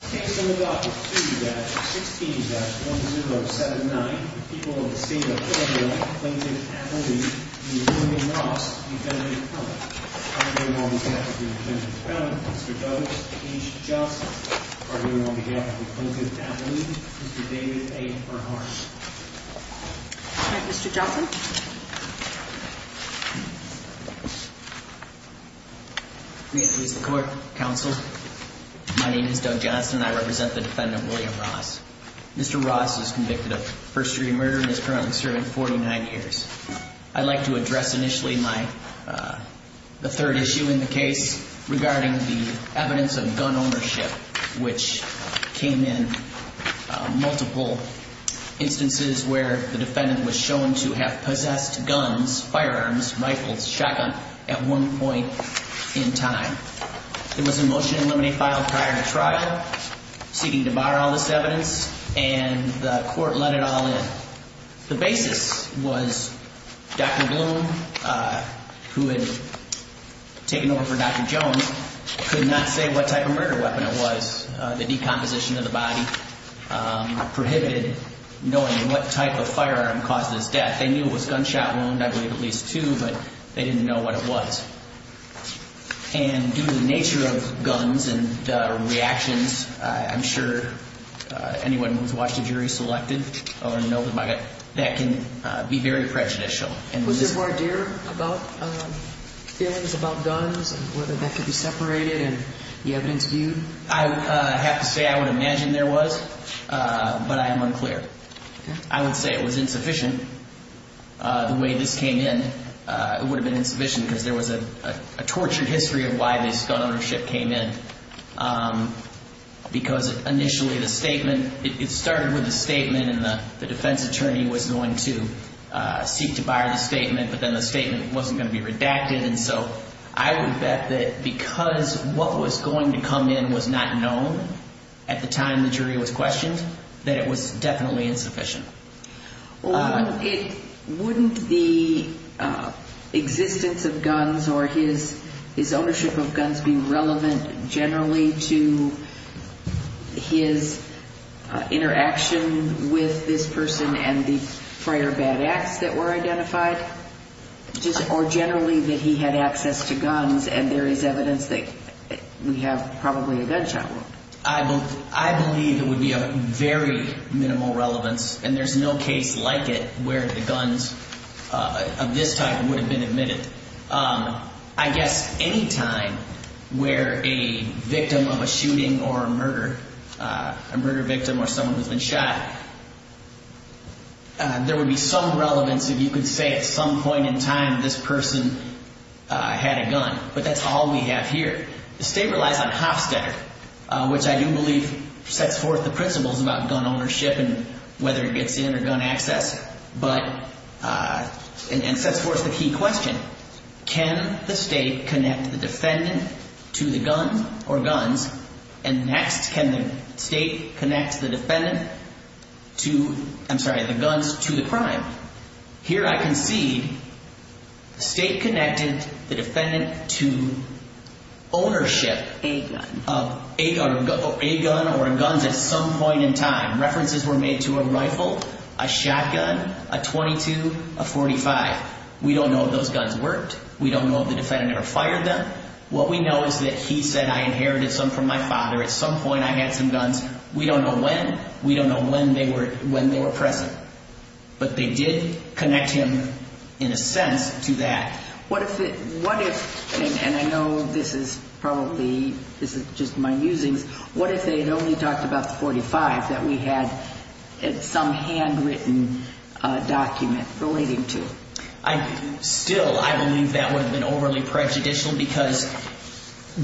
Case number 2-16-1079, the people of the state of Illinois, Plainton, Appalachia, v. Roy v. Ross v. Dudley & Co. I'm here on behalf of the Attorney General, Mr. Doug H. Johnson. I'm here on behalf of the Plainton, Appalachia, v. David A. Bernhardt. All right, Mr. Johnson. May it please the Court, Counsel. My name is Doug Johnson, and I represent the defendant, William Ross. Mr. Ross is convicted of first-degree murder and is currently serving 49 years. I'd like to address initially the third issue in the case regarding the evidence of gun ownership, which came in multiple instances where the defendant was shown to have possessed guns, firearms, rifles, shotgun at one point in time. It was a motion to eliminate file prior to trial, seeking to bar all this evidence, and the Court let it all in. The basis was Dr. Bloom, who had taken over for Dr. Jones, could not say what type of murder weapon it was. The decomposition of the body prohibited knowing what type of firearm caused his death. They knew it was gunshot wound, I believe at least two, but they didn't know what it was. And due to the nature of guns and reactions, I'm sure anyone who's watched a jury selected or knows about it, that can be very prejudicial. Was there a voir dire about feelings about guns and whether that could be separated and the evidence viewed? I have to say I would imagine there was, but I am unclear. I would say it was insufficient. The way this came in, it would have been insufficient because there was a tortured history of why this gun ownership came in. Because initially the statement, it started with a statement and the defense attorney was going to seek to bar the statement, but then the statement wasn't going to be redacted. And so I would bet that because what was going to come in was not known at the time the jury was questioned, that it was definitely insufficient. Wouldn't the existence of guns or his ownership of guns be relevant generally to his interaction with this person and the prior bad acts that were identified? Or generally that he had access to guns and there is evidence that we have probably a gunshot wound? I believe it would be of very minimal relevance and there's no case like it where the guns of this type would have been admitted. I guess any time where a victim of a shooting or a murder, a murder victim or someone who's been shot, there would be some relevance if you could say at some point in time this person had a gun. But that's all we have here. The statement relies on Hofstetter, which I do believe sets forth the principles about gun ownership and whether it gets in or gun access. But it sets forth the key question. Can the state connect the defendant to the gun or guns? And next, can the state connect the defendant to, I'm sorry, the guns to the crime? Here I concede the state connected the defendant to ownership of a gun or guns at some point in time. References were made to a rifle, a shotgun, a .22, a .45. We don't know if those guns worked. We don't know if the defendant ever fired them. What we know is that he said I inherited some from my father. At some point I had some guns. We don't know when. We don't know when they were present. But they did connect him in a sense to that. What if, and I know this is probably, this is just my musings. What if they had only talked about the .45 that we had some handwritten document relating to? Still, I believe that would have been overly prejudicial because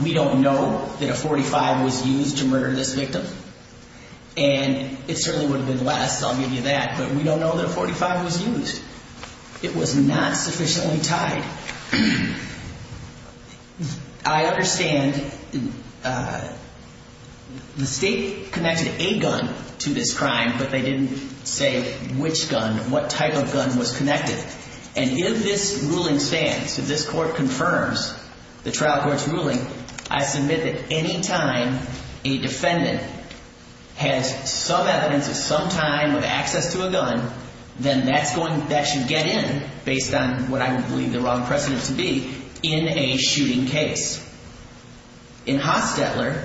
we don't know that a .45 was used to murder this victim. And it certainly would have been less. I'll give you that. But we don't know that a .45 was used. It was not sufficiently tied. I understand the state connected a gun to this crime, but they didn't say which gun, what type of gun was connected. And if this ruling stands, if this court confirms the trial court's ruling, I submit that any time a defendant has some evidence at some time of access to a gun, then that should get in based on what I would believe the wrong precedent to be in a shooting case. In Hostetler,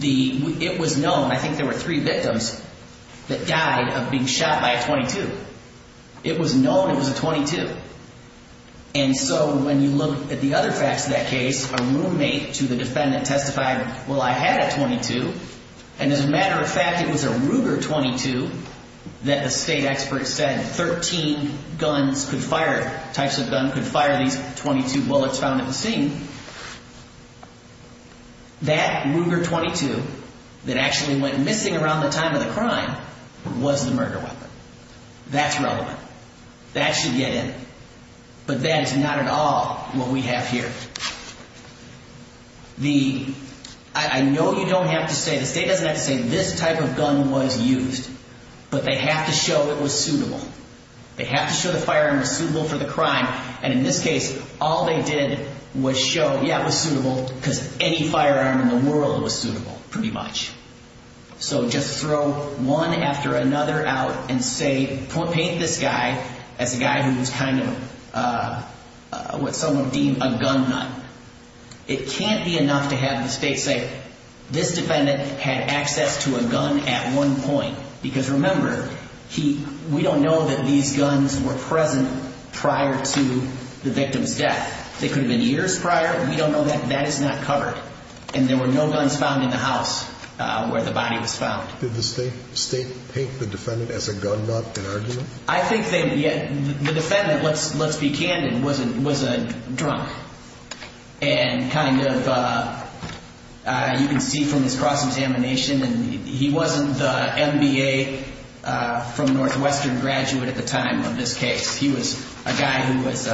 it was known, I think there were three victims that died of being shot by a .22. It was known it was a .22. And so when you look at the other facts of that case, a roommate to the defendant testified, well, I had a .22, and as a matter of fact, it was a Ruger .22 that the state expert said 13 guns could fire, types of gun could fire these .22 bullets found at the scene. That Ruger .22 that actually went missing around the time of the crime was the murder weapon. That's relevant. That should get in. But that is not at all what we have here. The, I know you don't have to say, the state doesn't have to say this type of gun was used, but they have to show it was suitable. They have to show the firearm was suitable for the crime, and in this case, all they did was show, yeah, it was suitable, because any firearm in the world was suitable, pretty much. So just throw one after another out and say, paint this guy as a guy who was kind of what some would deem a gun nut. It can't be enough to have the state say, this defendant had access to a gun at one point, because remember, we don't know that these guns were present prior to the victim's death. They could have been years prior. We don't know that. That is not covered, and there were no guns found in the house where the body was found. Did the state paint the defendant as a gun nut in argument? I think they, the defendant, let's be candid, was a drunk and kind of, you can see from his cross-examination, and he wasn't the MBA from Northwestern graduate at the time of this case. He was a guy who was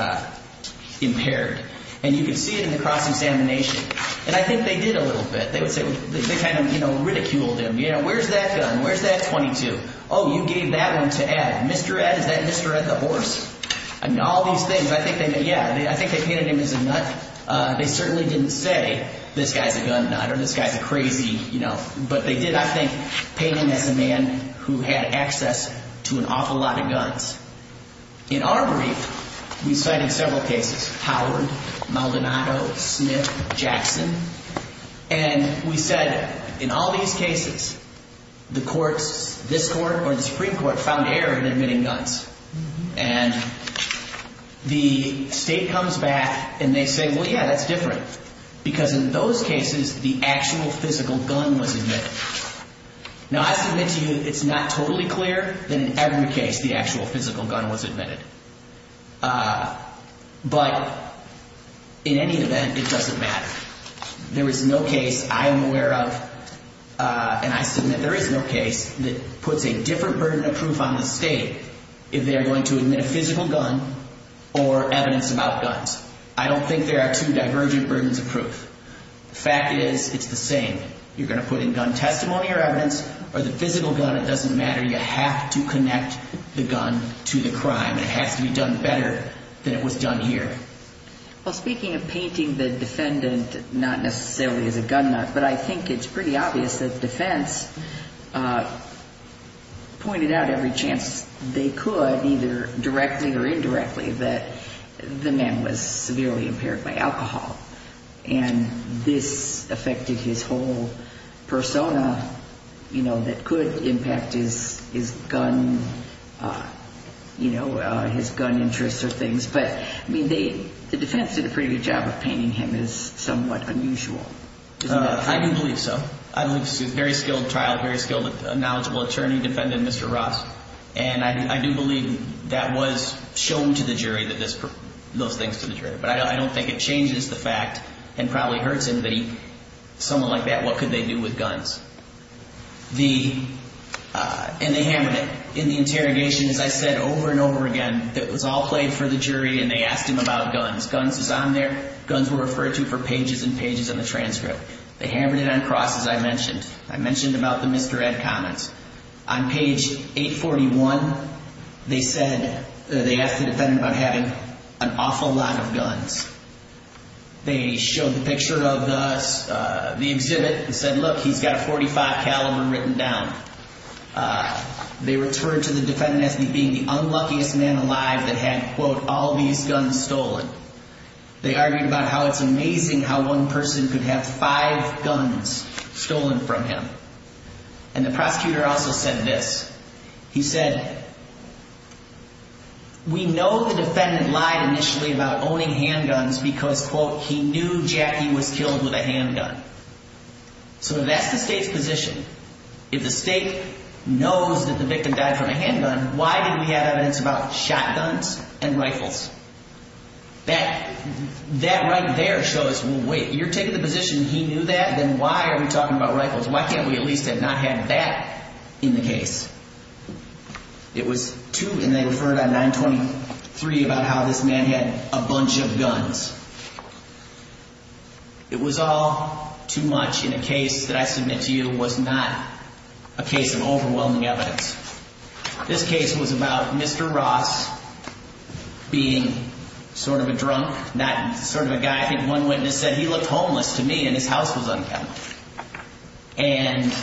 impaired, and you can see it in the cross-examination, and I think they did a little bit. They would say, they kind of, you know, ridiculed him. You know, where's that gun? Where's that .22? Oh, you gave that one to Ed. Mr. Ed, is that Mr. Ed the horse? I mean, all these things, I think they, yeah, I think they painted him as a nut. They certainly didn't say, this guy's a gun nut or this guy's a crazy, you know, but they did, I think, paint him as a man who had access to an awful lot of guns. In our brief, we cited several cases, Howard, Maldonado, Smith, Jackson, and we said, in all these cases, the courts, this court or the Supreme Court, found error in admitting guns. And the state comes back, and they say, well, yeah, that's different, because in those cases, the actual physical gun was admitted. Now, I submit to you, it's not totally clear that in every case the actual physical gun was admitted. But in any event, it doesn't matter. There is no case I am aware of, and I submit there is no case that puts a different burden of proof on the state if they are going to admit a physical gun or evidence about guns. I don't think there are two divergent burdens of proof. The fact is, it's the same. You're going to put in gun testimony or evidence or the physical gun. It doesn't matter. You have to connect the gun to the crime. It has to be done better than it was done here. Well, speaking of painting the defendant not necessarily as a gun nut, but I think it's pretty obvious that defense pointed out every chance they could, either directly or indirectly, that the man was severely impaired by alcohol. And this affected his whole persona, you know, that could impact his gun, you know, his gun interests or things. But, I mean, the defense did a pretty good job of painting him as somewhat unusual. I do believe so. I believe he's a very skilled trial, very skilled, knowledgeable attorney, defendant, Mr. Ross. And I do believe that was shown to the jury, those things to the jury. But I don't think it changes the fact and probably hurts anybody, someone like that, what could they do with guns. And they hammered it in the interrogation, as I said, over and over again. It was all played for the jury and they asked him about guns. Guns was on there. Guns were referred to for pages and pages of the transcript. They hammered it on cross, as I mentioned. I mentioned about the Mr. Ed comments. On page 841, they said, they asked the defendant about having an awful lot of guns. They showed the picture of the exhibit and said, look, he's got a .45 caliber written down. They returned to the defendant as being the unluckiest man alive that had, quote, all these guns stolen. They argued about how it's amazing how one person could have five guns stolen from him. And the prosecutor also said this. He said, we know the defendant lied initially about owning handguns because, quote, he knew Jackie was killed with a handgun. So that's the state's position. If the state knows that the victim died from a handgun, why didn't we have evidence about shotguns and rifles? That right there shows, well, wait, you're taking the position he knew that, then why are we talking about rifles? Why can't we at least have not had that in the case? It was too, and they referred on 923 about how this man had a bunch of guns. It was all too much in a case that I submit to you was not a case of overwhelming evidence. This case was about Mr. Ross being sort of a drunk, not sort of a guy. In fact, one witness said he looked homeless to me and his house was unkempt. And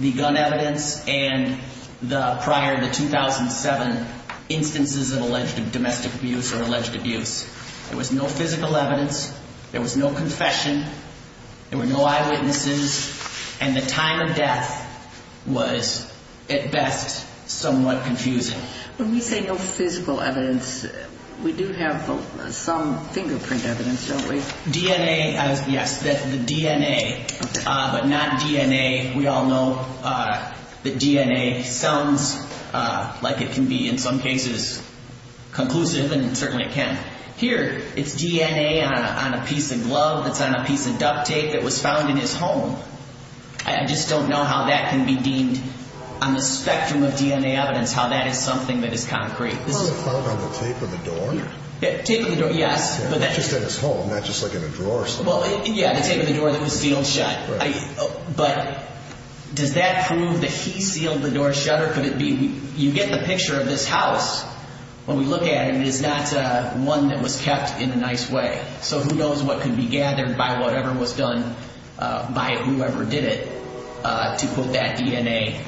the gun evidence and the prior, the 2007 instances of alleged domestic abuse or alleged abuse, there was no physical evidence. There was no confession. There were no eyewitnesses. And the time of death was, at best, somewhat confusing. When we say no physical evidence, we do have some fingerprint evidence, don't we? DNA, yes, the DNA, but not DNA. We all know that DNA sounds like it can be in some cases conclusive, and certainly it can't. Here, it's DNA on a piece of glove, it's on a piece of duct tape that was found in his home. I just don't know how that can be deemed on the spectrum of DNA evidence, how that is something that is concrete. Was it found on the tape of the door? Tape of the door, yes. Just in his home, not just like in a drawer or something. Yeah, the tape of the door that was sealed shut. But does that prove that he sealed the door shut, or could it be you get the picture of this house. When we look at it, it is not one that was kept in a nice way. So who knows what could be gathered by whatever was done by whoever did it to put that DNA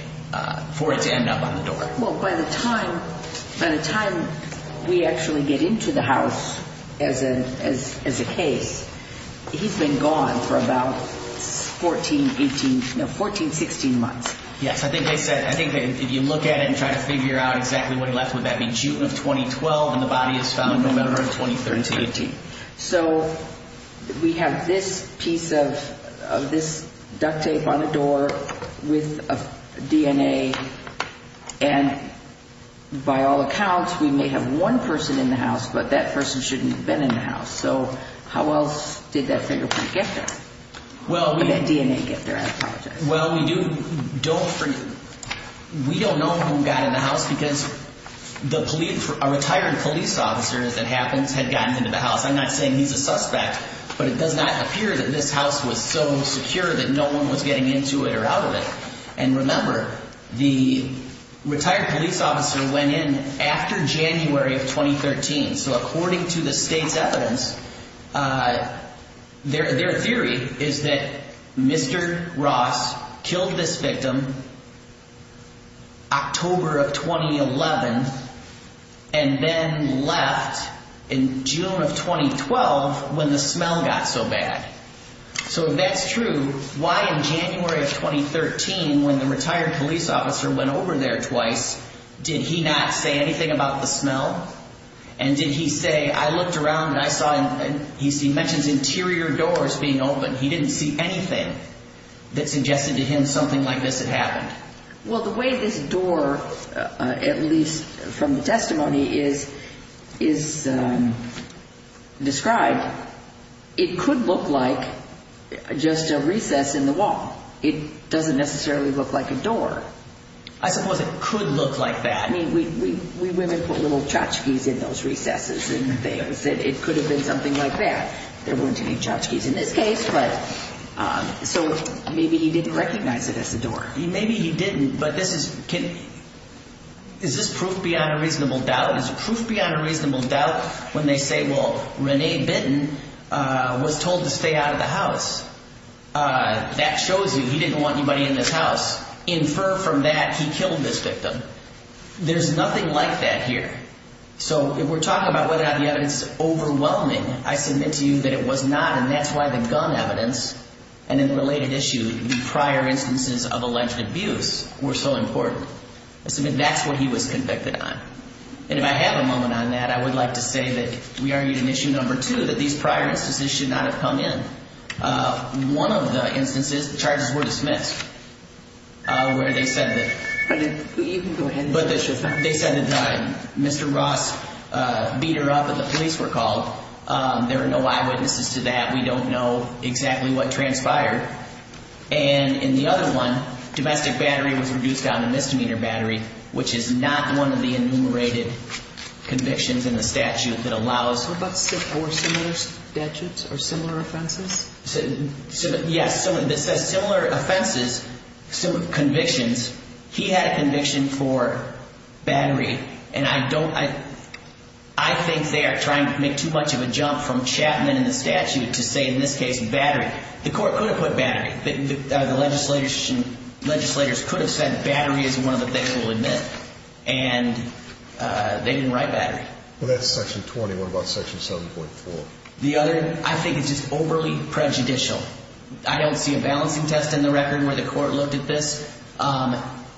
for it to end up on the door. Well, by the time we actually get into the house as a case, he's been gone for about 14, 18, no, 14, 16 months. Yes, I think they said, I think if you look at it and try to figure out exactly when he left, would that be June of 2012 and the body is found November of 2013 to 18. So we have this piece of this duct tape on the door with DNA. And by all accounts, we may have one person in the house, but that person shouldn't have been in the house. So how else did that fingerprint get there? Well, we. And that DNA get there, I apologize. Well, we do don't. We don't know who got in the house because the plea for a retired police officer, as it happens, had gotten into the house. I'm not saying he's a suspect, but it does not appear that this house was so secure that no one was getting into it or out of it. And remember, the retired police officer went in after January of 2013. So according to the state's evidence, their theory is that Mr. Ross killed this victim. October of 2011. And then left in June of 2012 when the smell got so bad. So that's true. Why in January of 2013, when the retired police officer went over there twice, did he not say anything about the smell? And did he say, I looked around and I saw, he mentions interior doors being open. He didn't see anything that suggested to him something like this had happened. Well, the way this door, at least from the testimony, is described, it could look like just a recess in the wall. It doesn't necessarily look like a door. I suppose it could look like that. I mean, we women put little tchotchkes in those recesses and things. It could have been something like that. There weren't any tchotchkes in this case. So maybe he didn't recognize it as a door. Maybe he didn't. But is this proof beyond a reasonable doubt? Is it proof beyond a reasonable doubt when they say, well, Rene Bitton was told to stay out of the house? That shows you he didn't want anybody in this house. Infer from that he killed this victim. There's nothing like that here. So if we're talking about whether or not the evidence is overwhelming, I submit to you that it was not. And that's why the gun evidence and the related issue, the prior instances of alleged abuse, were so important. I submit that's what he was convicted on. And if I have a moment on that, I would like to say that we argued in issue number two that these prior instances should not have come in. One of the instances, the charges were dismissed, where they said that Mr. Ross beat her up and the police were called. There are no eyewitnesses to that. We don't know exactly what transpired. And in the other one, domestic battery was reduced down to misdemeanor battery, which is not one of the enumerated convictions in the statute that allows. What about similar statutes or similar offenses? Yes, similar offenses, similar convictions. He had a conviction for battery. And I think they are trying to make too much of a jump from Chapman and the statute to say in this case battery. The court could have put battery. The legislators could have said battery is one of the things we'll admit. And they didn't write battery. Well, that's section 20. What about section 7.4? The other, I think it's just overly prejudicial. I don't see a balancing test in the record where the court looked at this.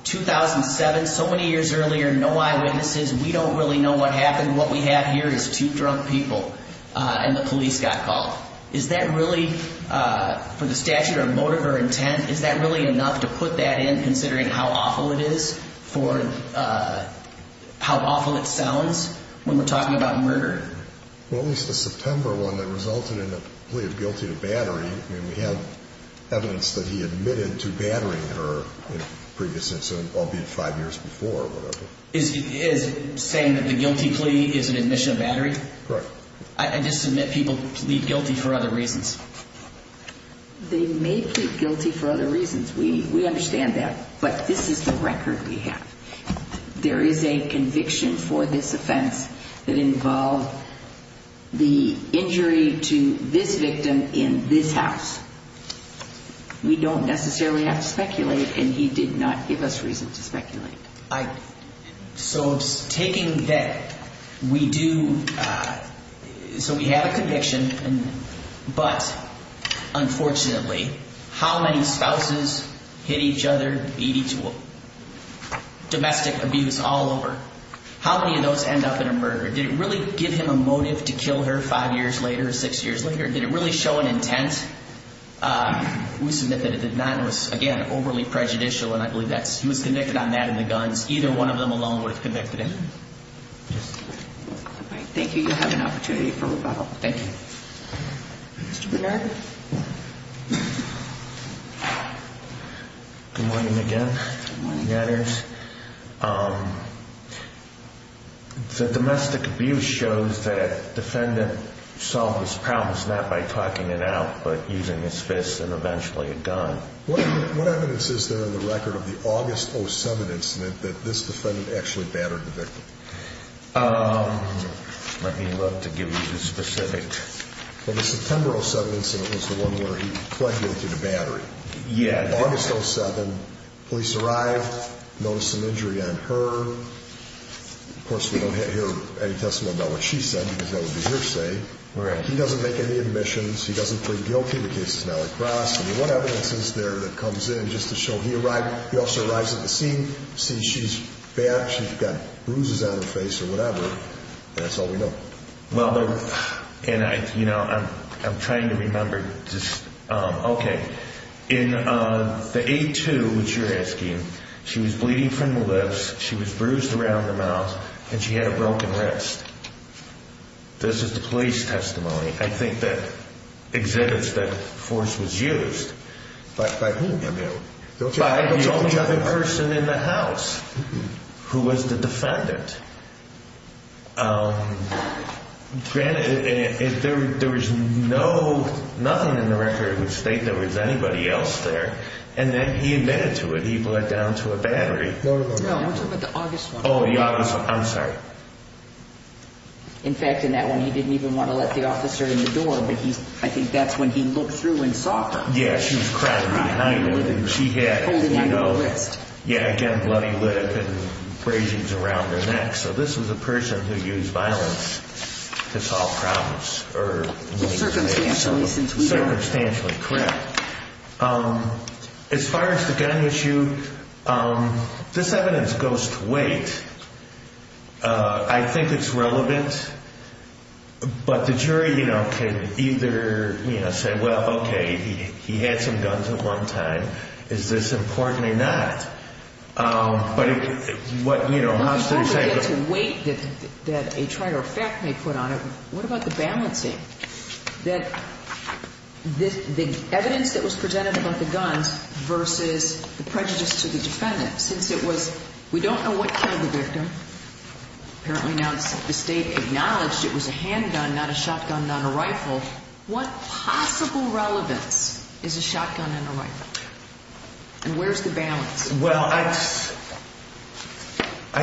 2007, so many years earlier, no eyewitnesses. We don't really know what happened. What we have here is two drunk people and the police got called. Is that really, for the statute or motive or intent, is that really enough to put that in considering how awful it is for how awful it sounds? When we're talking about murder. Well, it was the September one that resulted in a plea of guilty to battery. I mean, we have evidence that he admitted to battering her in a previous instance, albeit five years before or whatever. Is saying that the guilty plea is an admission of battery? Correct. I just submit people plead guilty for other reasons. They may plead guilty for other reasons. We understand that. But this is the record we have. There is a conviction for this offense that involved the injury to this victim in this house. We don't necessarily have to speculate, and he did not give us reason to speculate. So taking that, we do, so we have a conviction, but unfortunately, how many spouses hit each other, domestic abuse all over? How many of those end up in a murder? Did it really give him a motive to kill her five years later or six years later? Did it really show an intent? We submit that it did not. It was, again, overly prejudicial, and I believe he was convicted on that and the guns. Either one of them alone would have convicted him. Thank you. You have an opportunity for rebuttal. Thank you. Mr. Bernard? Good morning again. Good morning. The domestic abuse shows that a defendant solved his problems not by talking it out but using his fists and eventually a gun. What evidence is there in the record of the August 07 incident that this defendant actually battered the victim? Let me look to give you the specific. Well, the September 07 incident was the one where he plagiarized the battery. Yeah. August 07, police arrived, noticed an injury on her. Of course, we don't hear any testimony about what she said because that would be hearsay. Right. He doesn't make any admissions. He doesn't plead guilty. The case is now across. I mean, what evidence is there that comes in just to show he arrived? The officer arrives at the scene, sees she's bat, she's got bruises on her face or whatever, and that's all we know. I'm trying to remember. Okay. In the A2, which you're asking, she was bleeding from the lips, she was bruised around the mouth, and she had a broken wrist. This is the police testimony. I think that exhibits that force was used. By whom? By the only other person in the house who was the defendant. Granted, there was nothing in the record that would state there was anybody else there, and then he admitted to it. He bled down to a battery. No, no, no, no. No, we're talking about the August one. Oh, the August one. I'm sorry. In fact, in that one, he didn't even want to let the officer in the door, but I think that's when he looked through and saw her. Yeah, she was crying behind him. She had, you know. Holding onto her wrist. Yeah, again, bloody lip and abrasions around her neck. So this was a person who used violence to solve problems. Circumstantially, since we don't know. Circumstantially, correct. As far as the gun issue, this evidence goes to weight. I think it's relevant, but the jury, you know, can either, you know, say, well, okay, he had some guns at one time. Is this important or not? But what, you know, how should we say. It goes to weight that a trial or fact may put on it. What about the balancing? That the evidence that was presented about the guns versus the prejudice to the defendant. Since it was, we don't know what killed the victim. Apparently now the state acknowledged it was a handgun, not a shotgun, not a rifle. What possible relevance is a shotgun and a rifle? And where's the balance? Well, I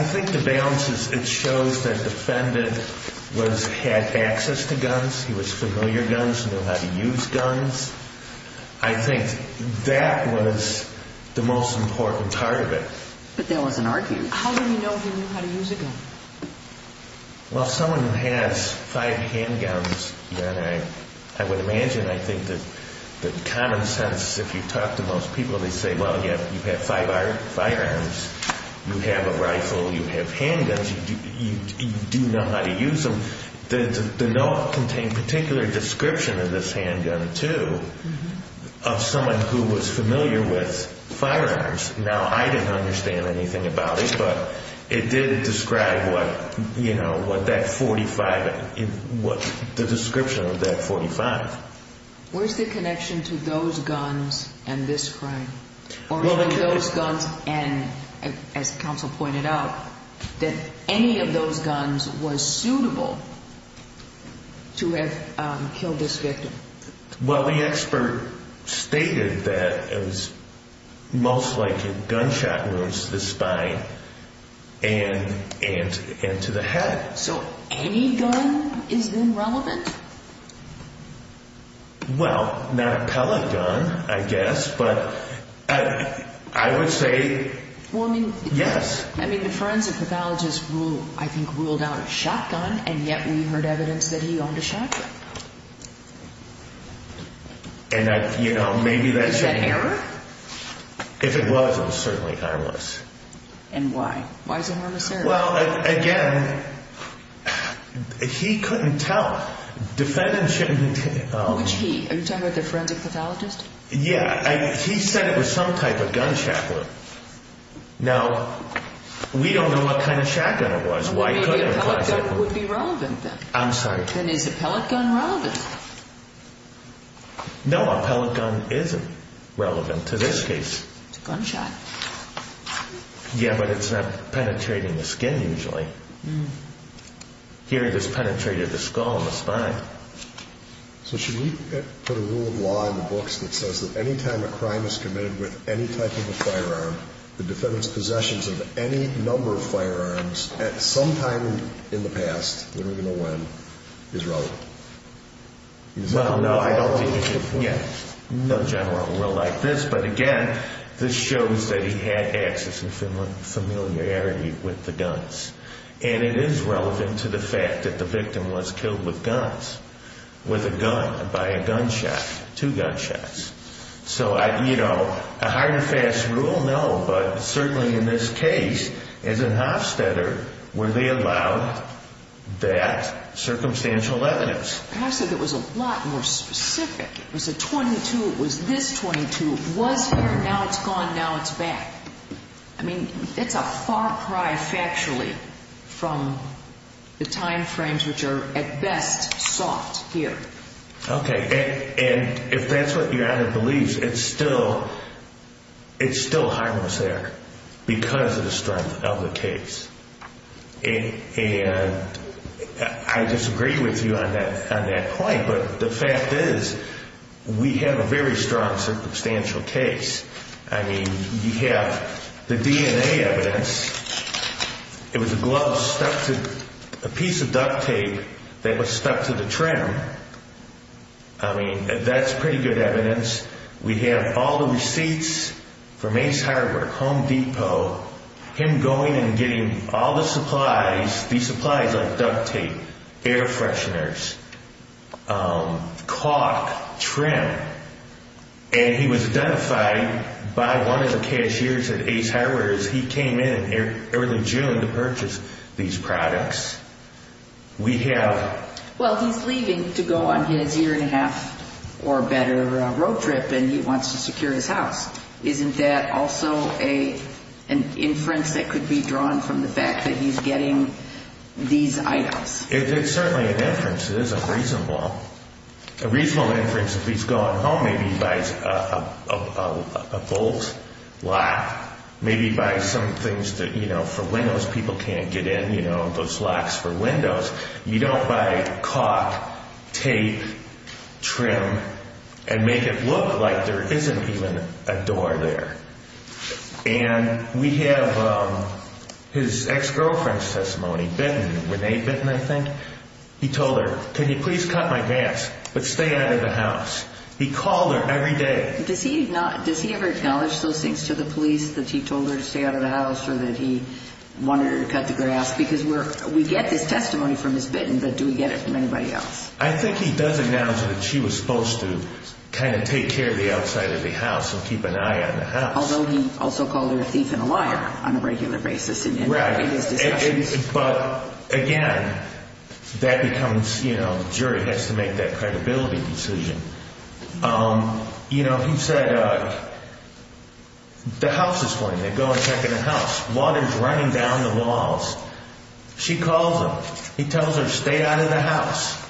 think the balance is it shows that the defendant had access to guns. He was familiar with guns. He knew how to use guns. I think that was the most important part of it. But that wasn't argued. How do we know he knew how to use a gun? Well, someone who has five handguns, then I would imagine, I think, that common sense, if you talk to most people, they say, well, you have five firearms. You have a rifle. You have handguns. You do know how to use them. The note contained particular description of this handgun, too, of someone who was familiar with firearms. Now, I didn't understand anything about it, but it did describe what that .45, the description of that .45. Where's the connection to those guns and this crime? Or to those guns and, as counsel pointed out, that any of those guns was suitable to have killed this victim? Well, the expert stated that it was most likely gunshot wounds to the spine and to the head. So any gun is then relevant? Well, not a pellet gun, I guess, but I would say yes. I mean, the forensic pathologist, I think, ruled out a shotgun, and yet we heard evidence that he owned a shotgun. Is that an error? If it was, it was certainly harmless. And why? Why is it harmless? Well, again, he couldn't tell. Which he? Are you talking about the forensic pathologist? Yeah. He said it was some type of gunshot wound. Now, we don't know what kind of shotgun it was. Why could it have caused it? Maybe a pellet gun would be relevant then. I'm sorry. Then is a pellet gun relevant? No, a pellet gun isn't relevant to this case. It's a gunshot. Yeah, but it's not penetrating the skin usually. Here it has penetrated the skull and the spine. So should we put a rule of law in the books that says that any time a crime is committed with any type of a firearm, the defendant's possessions of any number of firearms at some time in the past, when we're going to win, is relevant? Well, no, I don't think it is. No general will like this, but again, this shows that he had access and familiarity with the guns. And it is relevant to the fact that the victim was killed with guns, with a gun, by a gunshot, two gunshots. So, you know, a hard and fast rule? No, but certainly in this case, as an Hofstetter, were they allowed that circumstantial evidence? Hofstetter said it was a lot more specific. It was a .22. It was this .22. It was here. Now it's gone. Now it's back. I mean, it's a far cry factually from the time frames which are at best sought here. Okay. And if that's what Your Honor believes, it's still harmless there because of the strength of the case. And I disagree with you on that point, but the fact is we have a very strong circumstantial case. I mean, you have the DNA evidence. It was a glove stuck to a piece of duct tape that was stuck to the trim. I mean, that's pretty good evidence. We have all the receipts from Ace Harbor, Home Depot. Him going and getting all the supplies, these supplies like duct tape, air fresheners, caulk, trim. And he was identified by one of the cashiers at Ace Harbor as he came in early June to purchase these products. We have – Well, he's leaving to go on his year-and-a-half or better road trip, and he wants to secure his house. Isn't that also an inference that could be drawn from the fact that he's getting these items? It's certainly an inference. It is a reasonable – a reasonable inference if he's going home. Maybe he buys a bolt lock. Maybe he buys some things that, you know, for windows people can't get in, you know, those locks for windows. You don't buy caulk, tape, trim, and make it look like there isn't even a door there. And we have his ex-girlfriend's testimony, Benton, Renee Benton, I think. He told her, can you please cut my grass, but stay out of the house. He called her every day. Does he ever acknowledge those things to the police that he told her to stay out of the house or that he wanted her to cut the grass? Because we get this testimony from Ms. Benton, but do we get it from anybody else? I think he does acknowledge that she was supposed to kind of take care of the outside of the house and keep an eye on the house. Although he also called her a thief and a liar on a regular basis in his discussions. But again, that becomes, you know, jury has to make that credibility decision. You know, he said the house is flooding. They go and check in the house. Water's running down the walls. She calls him. He tells her, stay out of the house.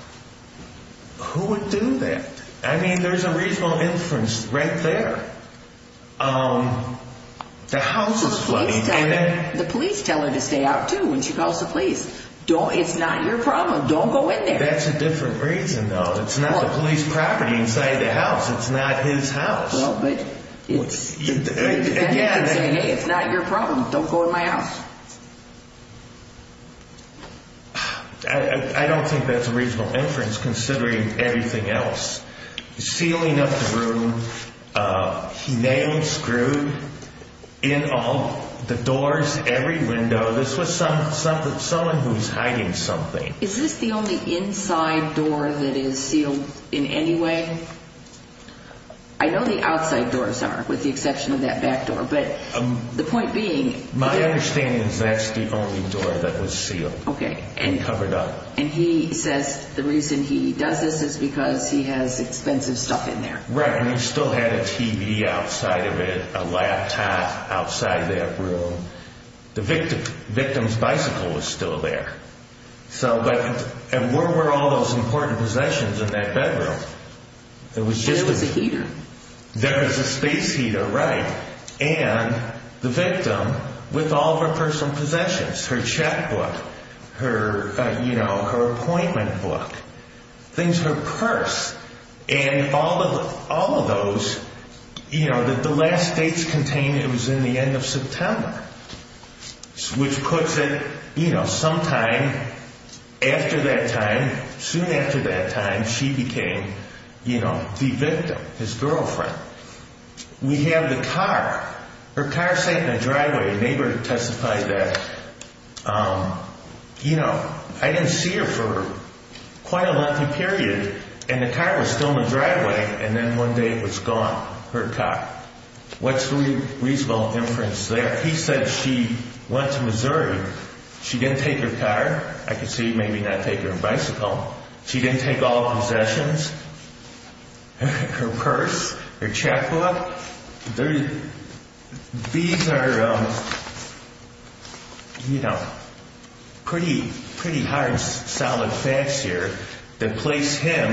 Who would do that? The house is flooding. The police tell her to stay out, too, when she calls the police. It's not your problem. Don't go in there. That's a different reason, though. It's not the police property inside the house. It's not his house. It's not your problem. Don't go in my house. I don't think that's a reasonable inference, considering everything else. Sealing up the room. He nailed, screwed in all the doors, every window. This was someone who was hiding something. Is this the only inside door that is sealed in any way? I know the outside doors are, with the exception of that back door. But the point being... My understanding is that's the only door that was sealed and covered up. And he says the reason he does this is because he has expensive stuff in there. Right. And he still had a TV outside of it, a laptop outside that room. The victim's bicycle was still there. And where were all those important possessions in that bedroom? There was a heater. There was a space heater, right. And the victim, with all of her personal possessions, her checkbook, her appointment book, things, her purse, and all of those that the last dates contained it was in the end of September. Which puts it sometime after that time, soon after that time, she became the victim, his girlfriend. We have the car. Her car sat in a driveway. A neighbor testified that, you know, I didn't see her for quite a lengthy period. And the car was still in the driveway. And then one day it was gone, her car. What's the reasonable inference there? He said she went to Missouri. She didn't take her car. I could see maybe not take her bicycle. She didn't take all of her possessions, her purse, her checkbook. Well, these are, you know, pretty hard, solid facts here that place him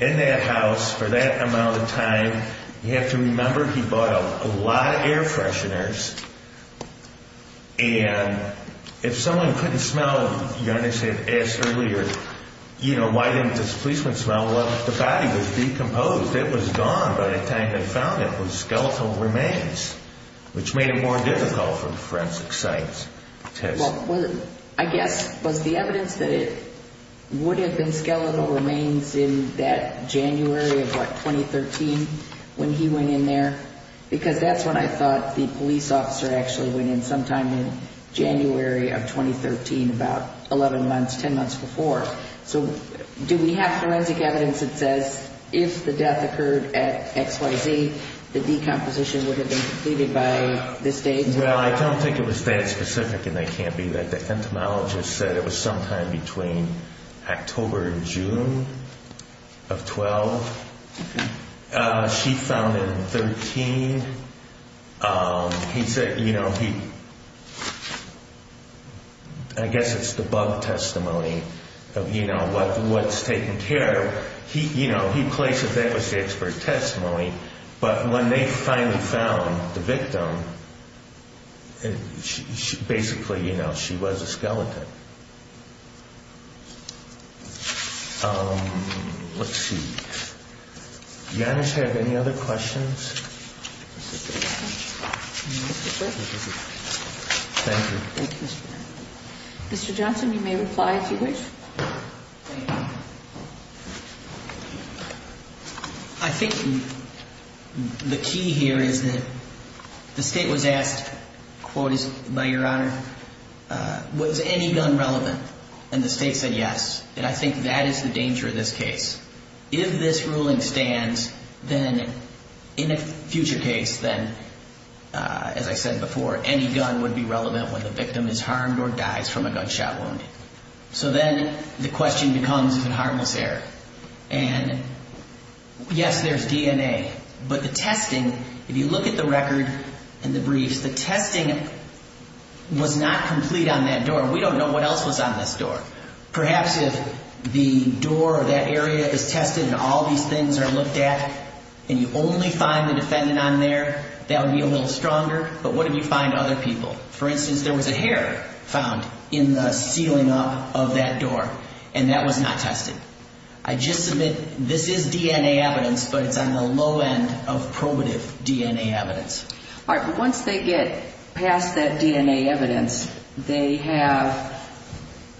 in that house for that amount of time. You have to remember he bought a lot of air fresheners. And if someone couldn't smell, you understand, asked earlier, you know, why didn't this policeman smell? Well, the body was decomposed. It was gone by the time they found it with skeletal remains, which made it more difficult for the forensic science test. Well, I guess, was the evidence that it would have been skeletal remains in that January of, what, 2013 when he went in there? Because that's when I thought the police officer actually went in, sometime in January of 2013, about 11 months, 10 months before. So do we have forensic evidence that says if the death occurred at XYZ, the decomposition would have been completed by this date? Well, I don't think it was that specific, and they can't be. The entomologist said it was sometime between October and June of 12. She found him 13. He said, you know, I guess it's the bug testimony of, you know, what's taken care of. You know, he places that as the expert testimony. But when they finally found the victim, basically, you know, she was a skeleton. Let's see. Do managers have any other questions? Thank you. Mr. Johnson, you may reply if you wish. I think the key here is that the State was asked, quote, by Your Honor, was any gun relevant? And the State said yes, and I think that is the danger of this case. If this ruling stands, then in a future case, then, as I said before, any gun would be relevant when the victim is harmed or dies from a gunshot wound. So then the question becomes, is it harmless error? And yes, there's DNA. But the testing, if you look at the record and the briefs, the testing was not complete on that door. We don't know what else was on this door. Perhaps if the door or that area is tested and all these things are looked at and you only find the defendant on there, that would be a little stronger. But what if you find other people? For instance, there was a hair found in the ceiling of that door, and that was not tested. I just submit this is DNA evidence, but it's on the low end of probative DNA evidence. All right, but once they get past that DNA evidence, they have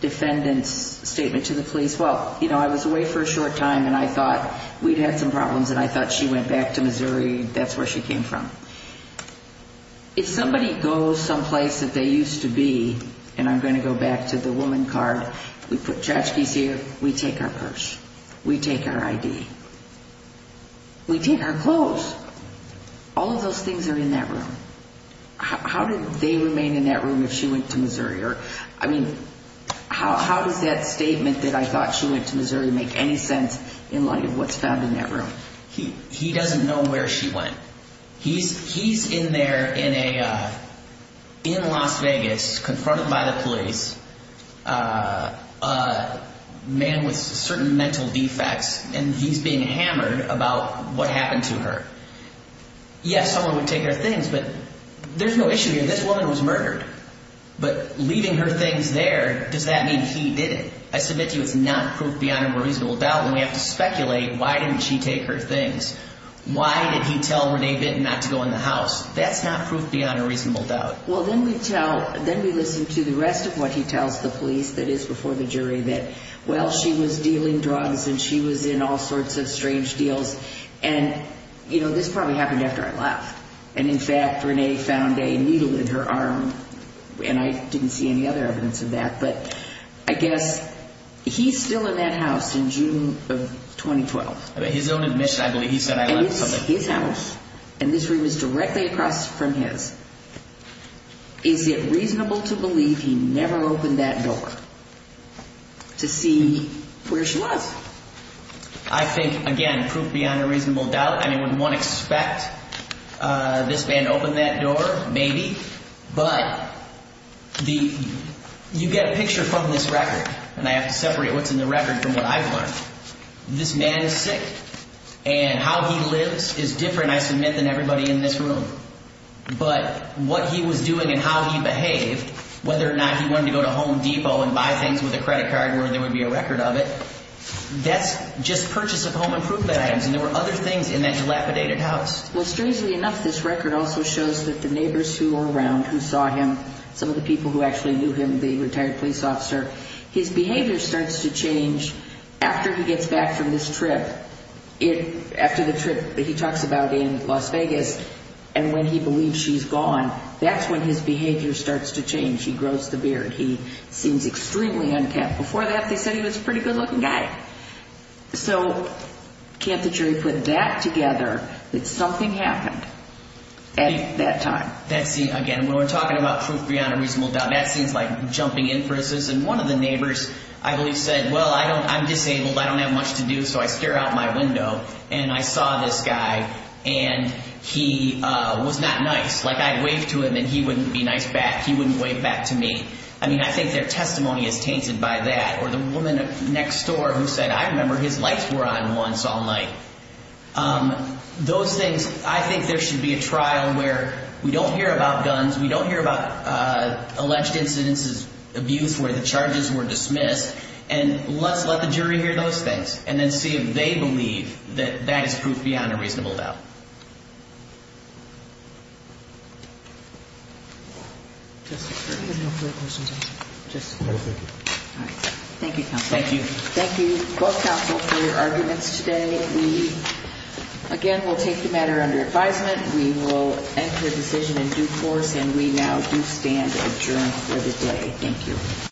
defendant's statement to the police, well, you know, I was away for a short time and I thought we'd had some problems and I thought she went back to Missouri, that's where she came from. If somebody goes someplace that they used to be, and I'm going to go back to the woman card, we put trash keys here, we take our purse, we take our ID, we take our clothes. All of those things are in that room. How did they remain in that room if she went to Missouri? I mean, how does that statement that I thought she went to Missouri make any sense in light of what's found in that room? He doesn't know where she went. He's in there in Las Vegas, confronted by the police, a man with certain mental defects, and he's being hammered about what happened to her. Yes, someone would take her things, but there's no issue here. This woman was murdered, but leaving her things there, does that mean he did it? I submit to you it's not proof beyond a reasonable doubt, and we have to speculate, why didn't she take her things? Why did he tell Renee Bitton not to go in the house? That's not proof beyond a reasonable doubt. Well, then we tell, then we listen to the rest of what he tells the police, that is, before the jury, that, well, she was dealing drugs and she was in all sorts of strange deals, and, you know, this probably happened after I left, and, in fact, Renee found a needle in her arm, and I didn't see any other evidence of that, but I guess he's still in that house in June of 2012. His own admission, I believe, he said, I left something. And it's his house, and this room is directly across from his. Is it reasonable to believe he never opened that door to see where she was? I think, again, proof beyond a reasonable doubt. I mean, would one expect this man to open that door? Maybe. But you get a picture from this record, and I have to separate what's in the record from what I've learned. This man is sick, and how he lives is different, I submit, than everybody in this room. But what he was doing and how he behaved, whether or not he wanted to go to Home Depot and buy things with a credit card where there would be a record of it, that's just purchase of home and proof that items, and there were other things in that dilapidated house. Well, strangely enough, this record also shows that the neighbors who were around, who saw him, some of the people who actually knew him, the retired police officer, his behavior starts to change after he gets back from this trip. After the trip that he talks about in Las Vegas, and when he believes she's gone, that's when his behavior starts to change. He grows the beard. He seems extremely unkempt. Before that, they said he was a pretty good-looking guy. So can't the jury put that together, that something happened at that time? That seems, again, when we're talking about proof beyond a reasonable doubt, that seems like jumping inferences. And one of the neighbors, I believe, said, well, I'm disabled, I don't have much to do, so I stare out my window, and I saw this guy, and he was not nice. Like, I'd wave to him, and he wouldn't be nice back. He wouldn't wave back to me. I mean, I think their testimony is tainted by that. Or the woman next door who said, I remember his lights were on once all night. Those things, I think there should be a trial where we don't hear about guns, we don't hear about alleged incidences, abuse where the charges were dismissed, and let's let the jury hear those things and then see if they believe that that is proof beyond a reasonable doubt. Thank you. Thank you both counsel for your arguments today. Again, we'll take the matter under advisement. We will end the decision in due course, and we now do stand adjourned for the day. Thank you.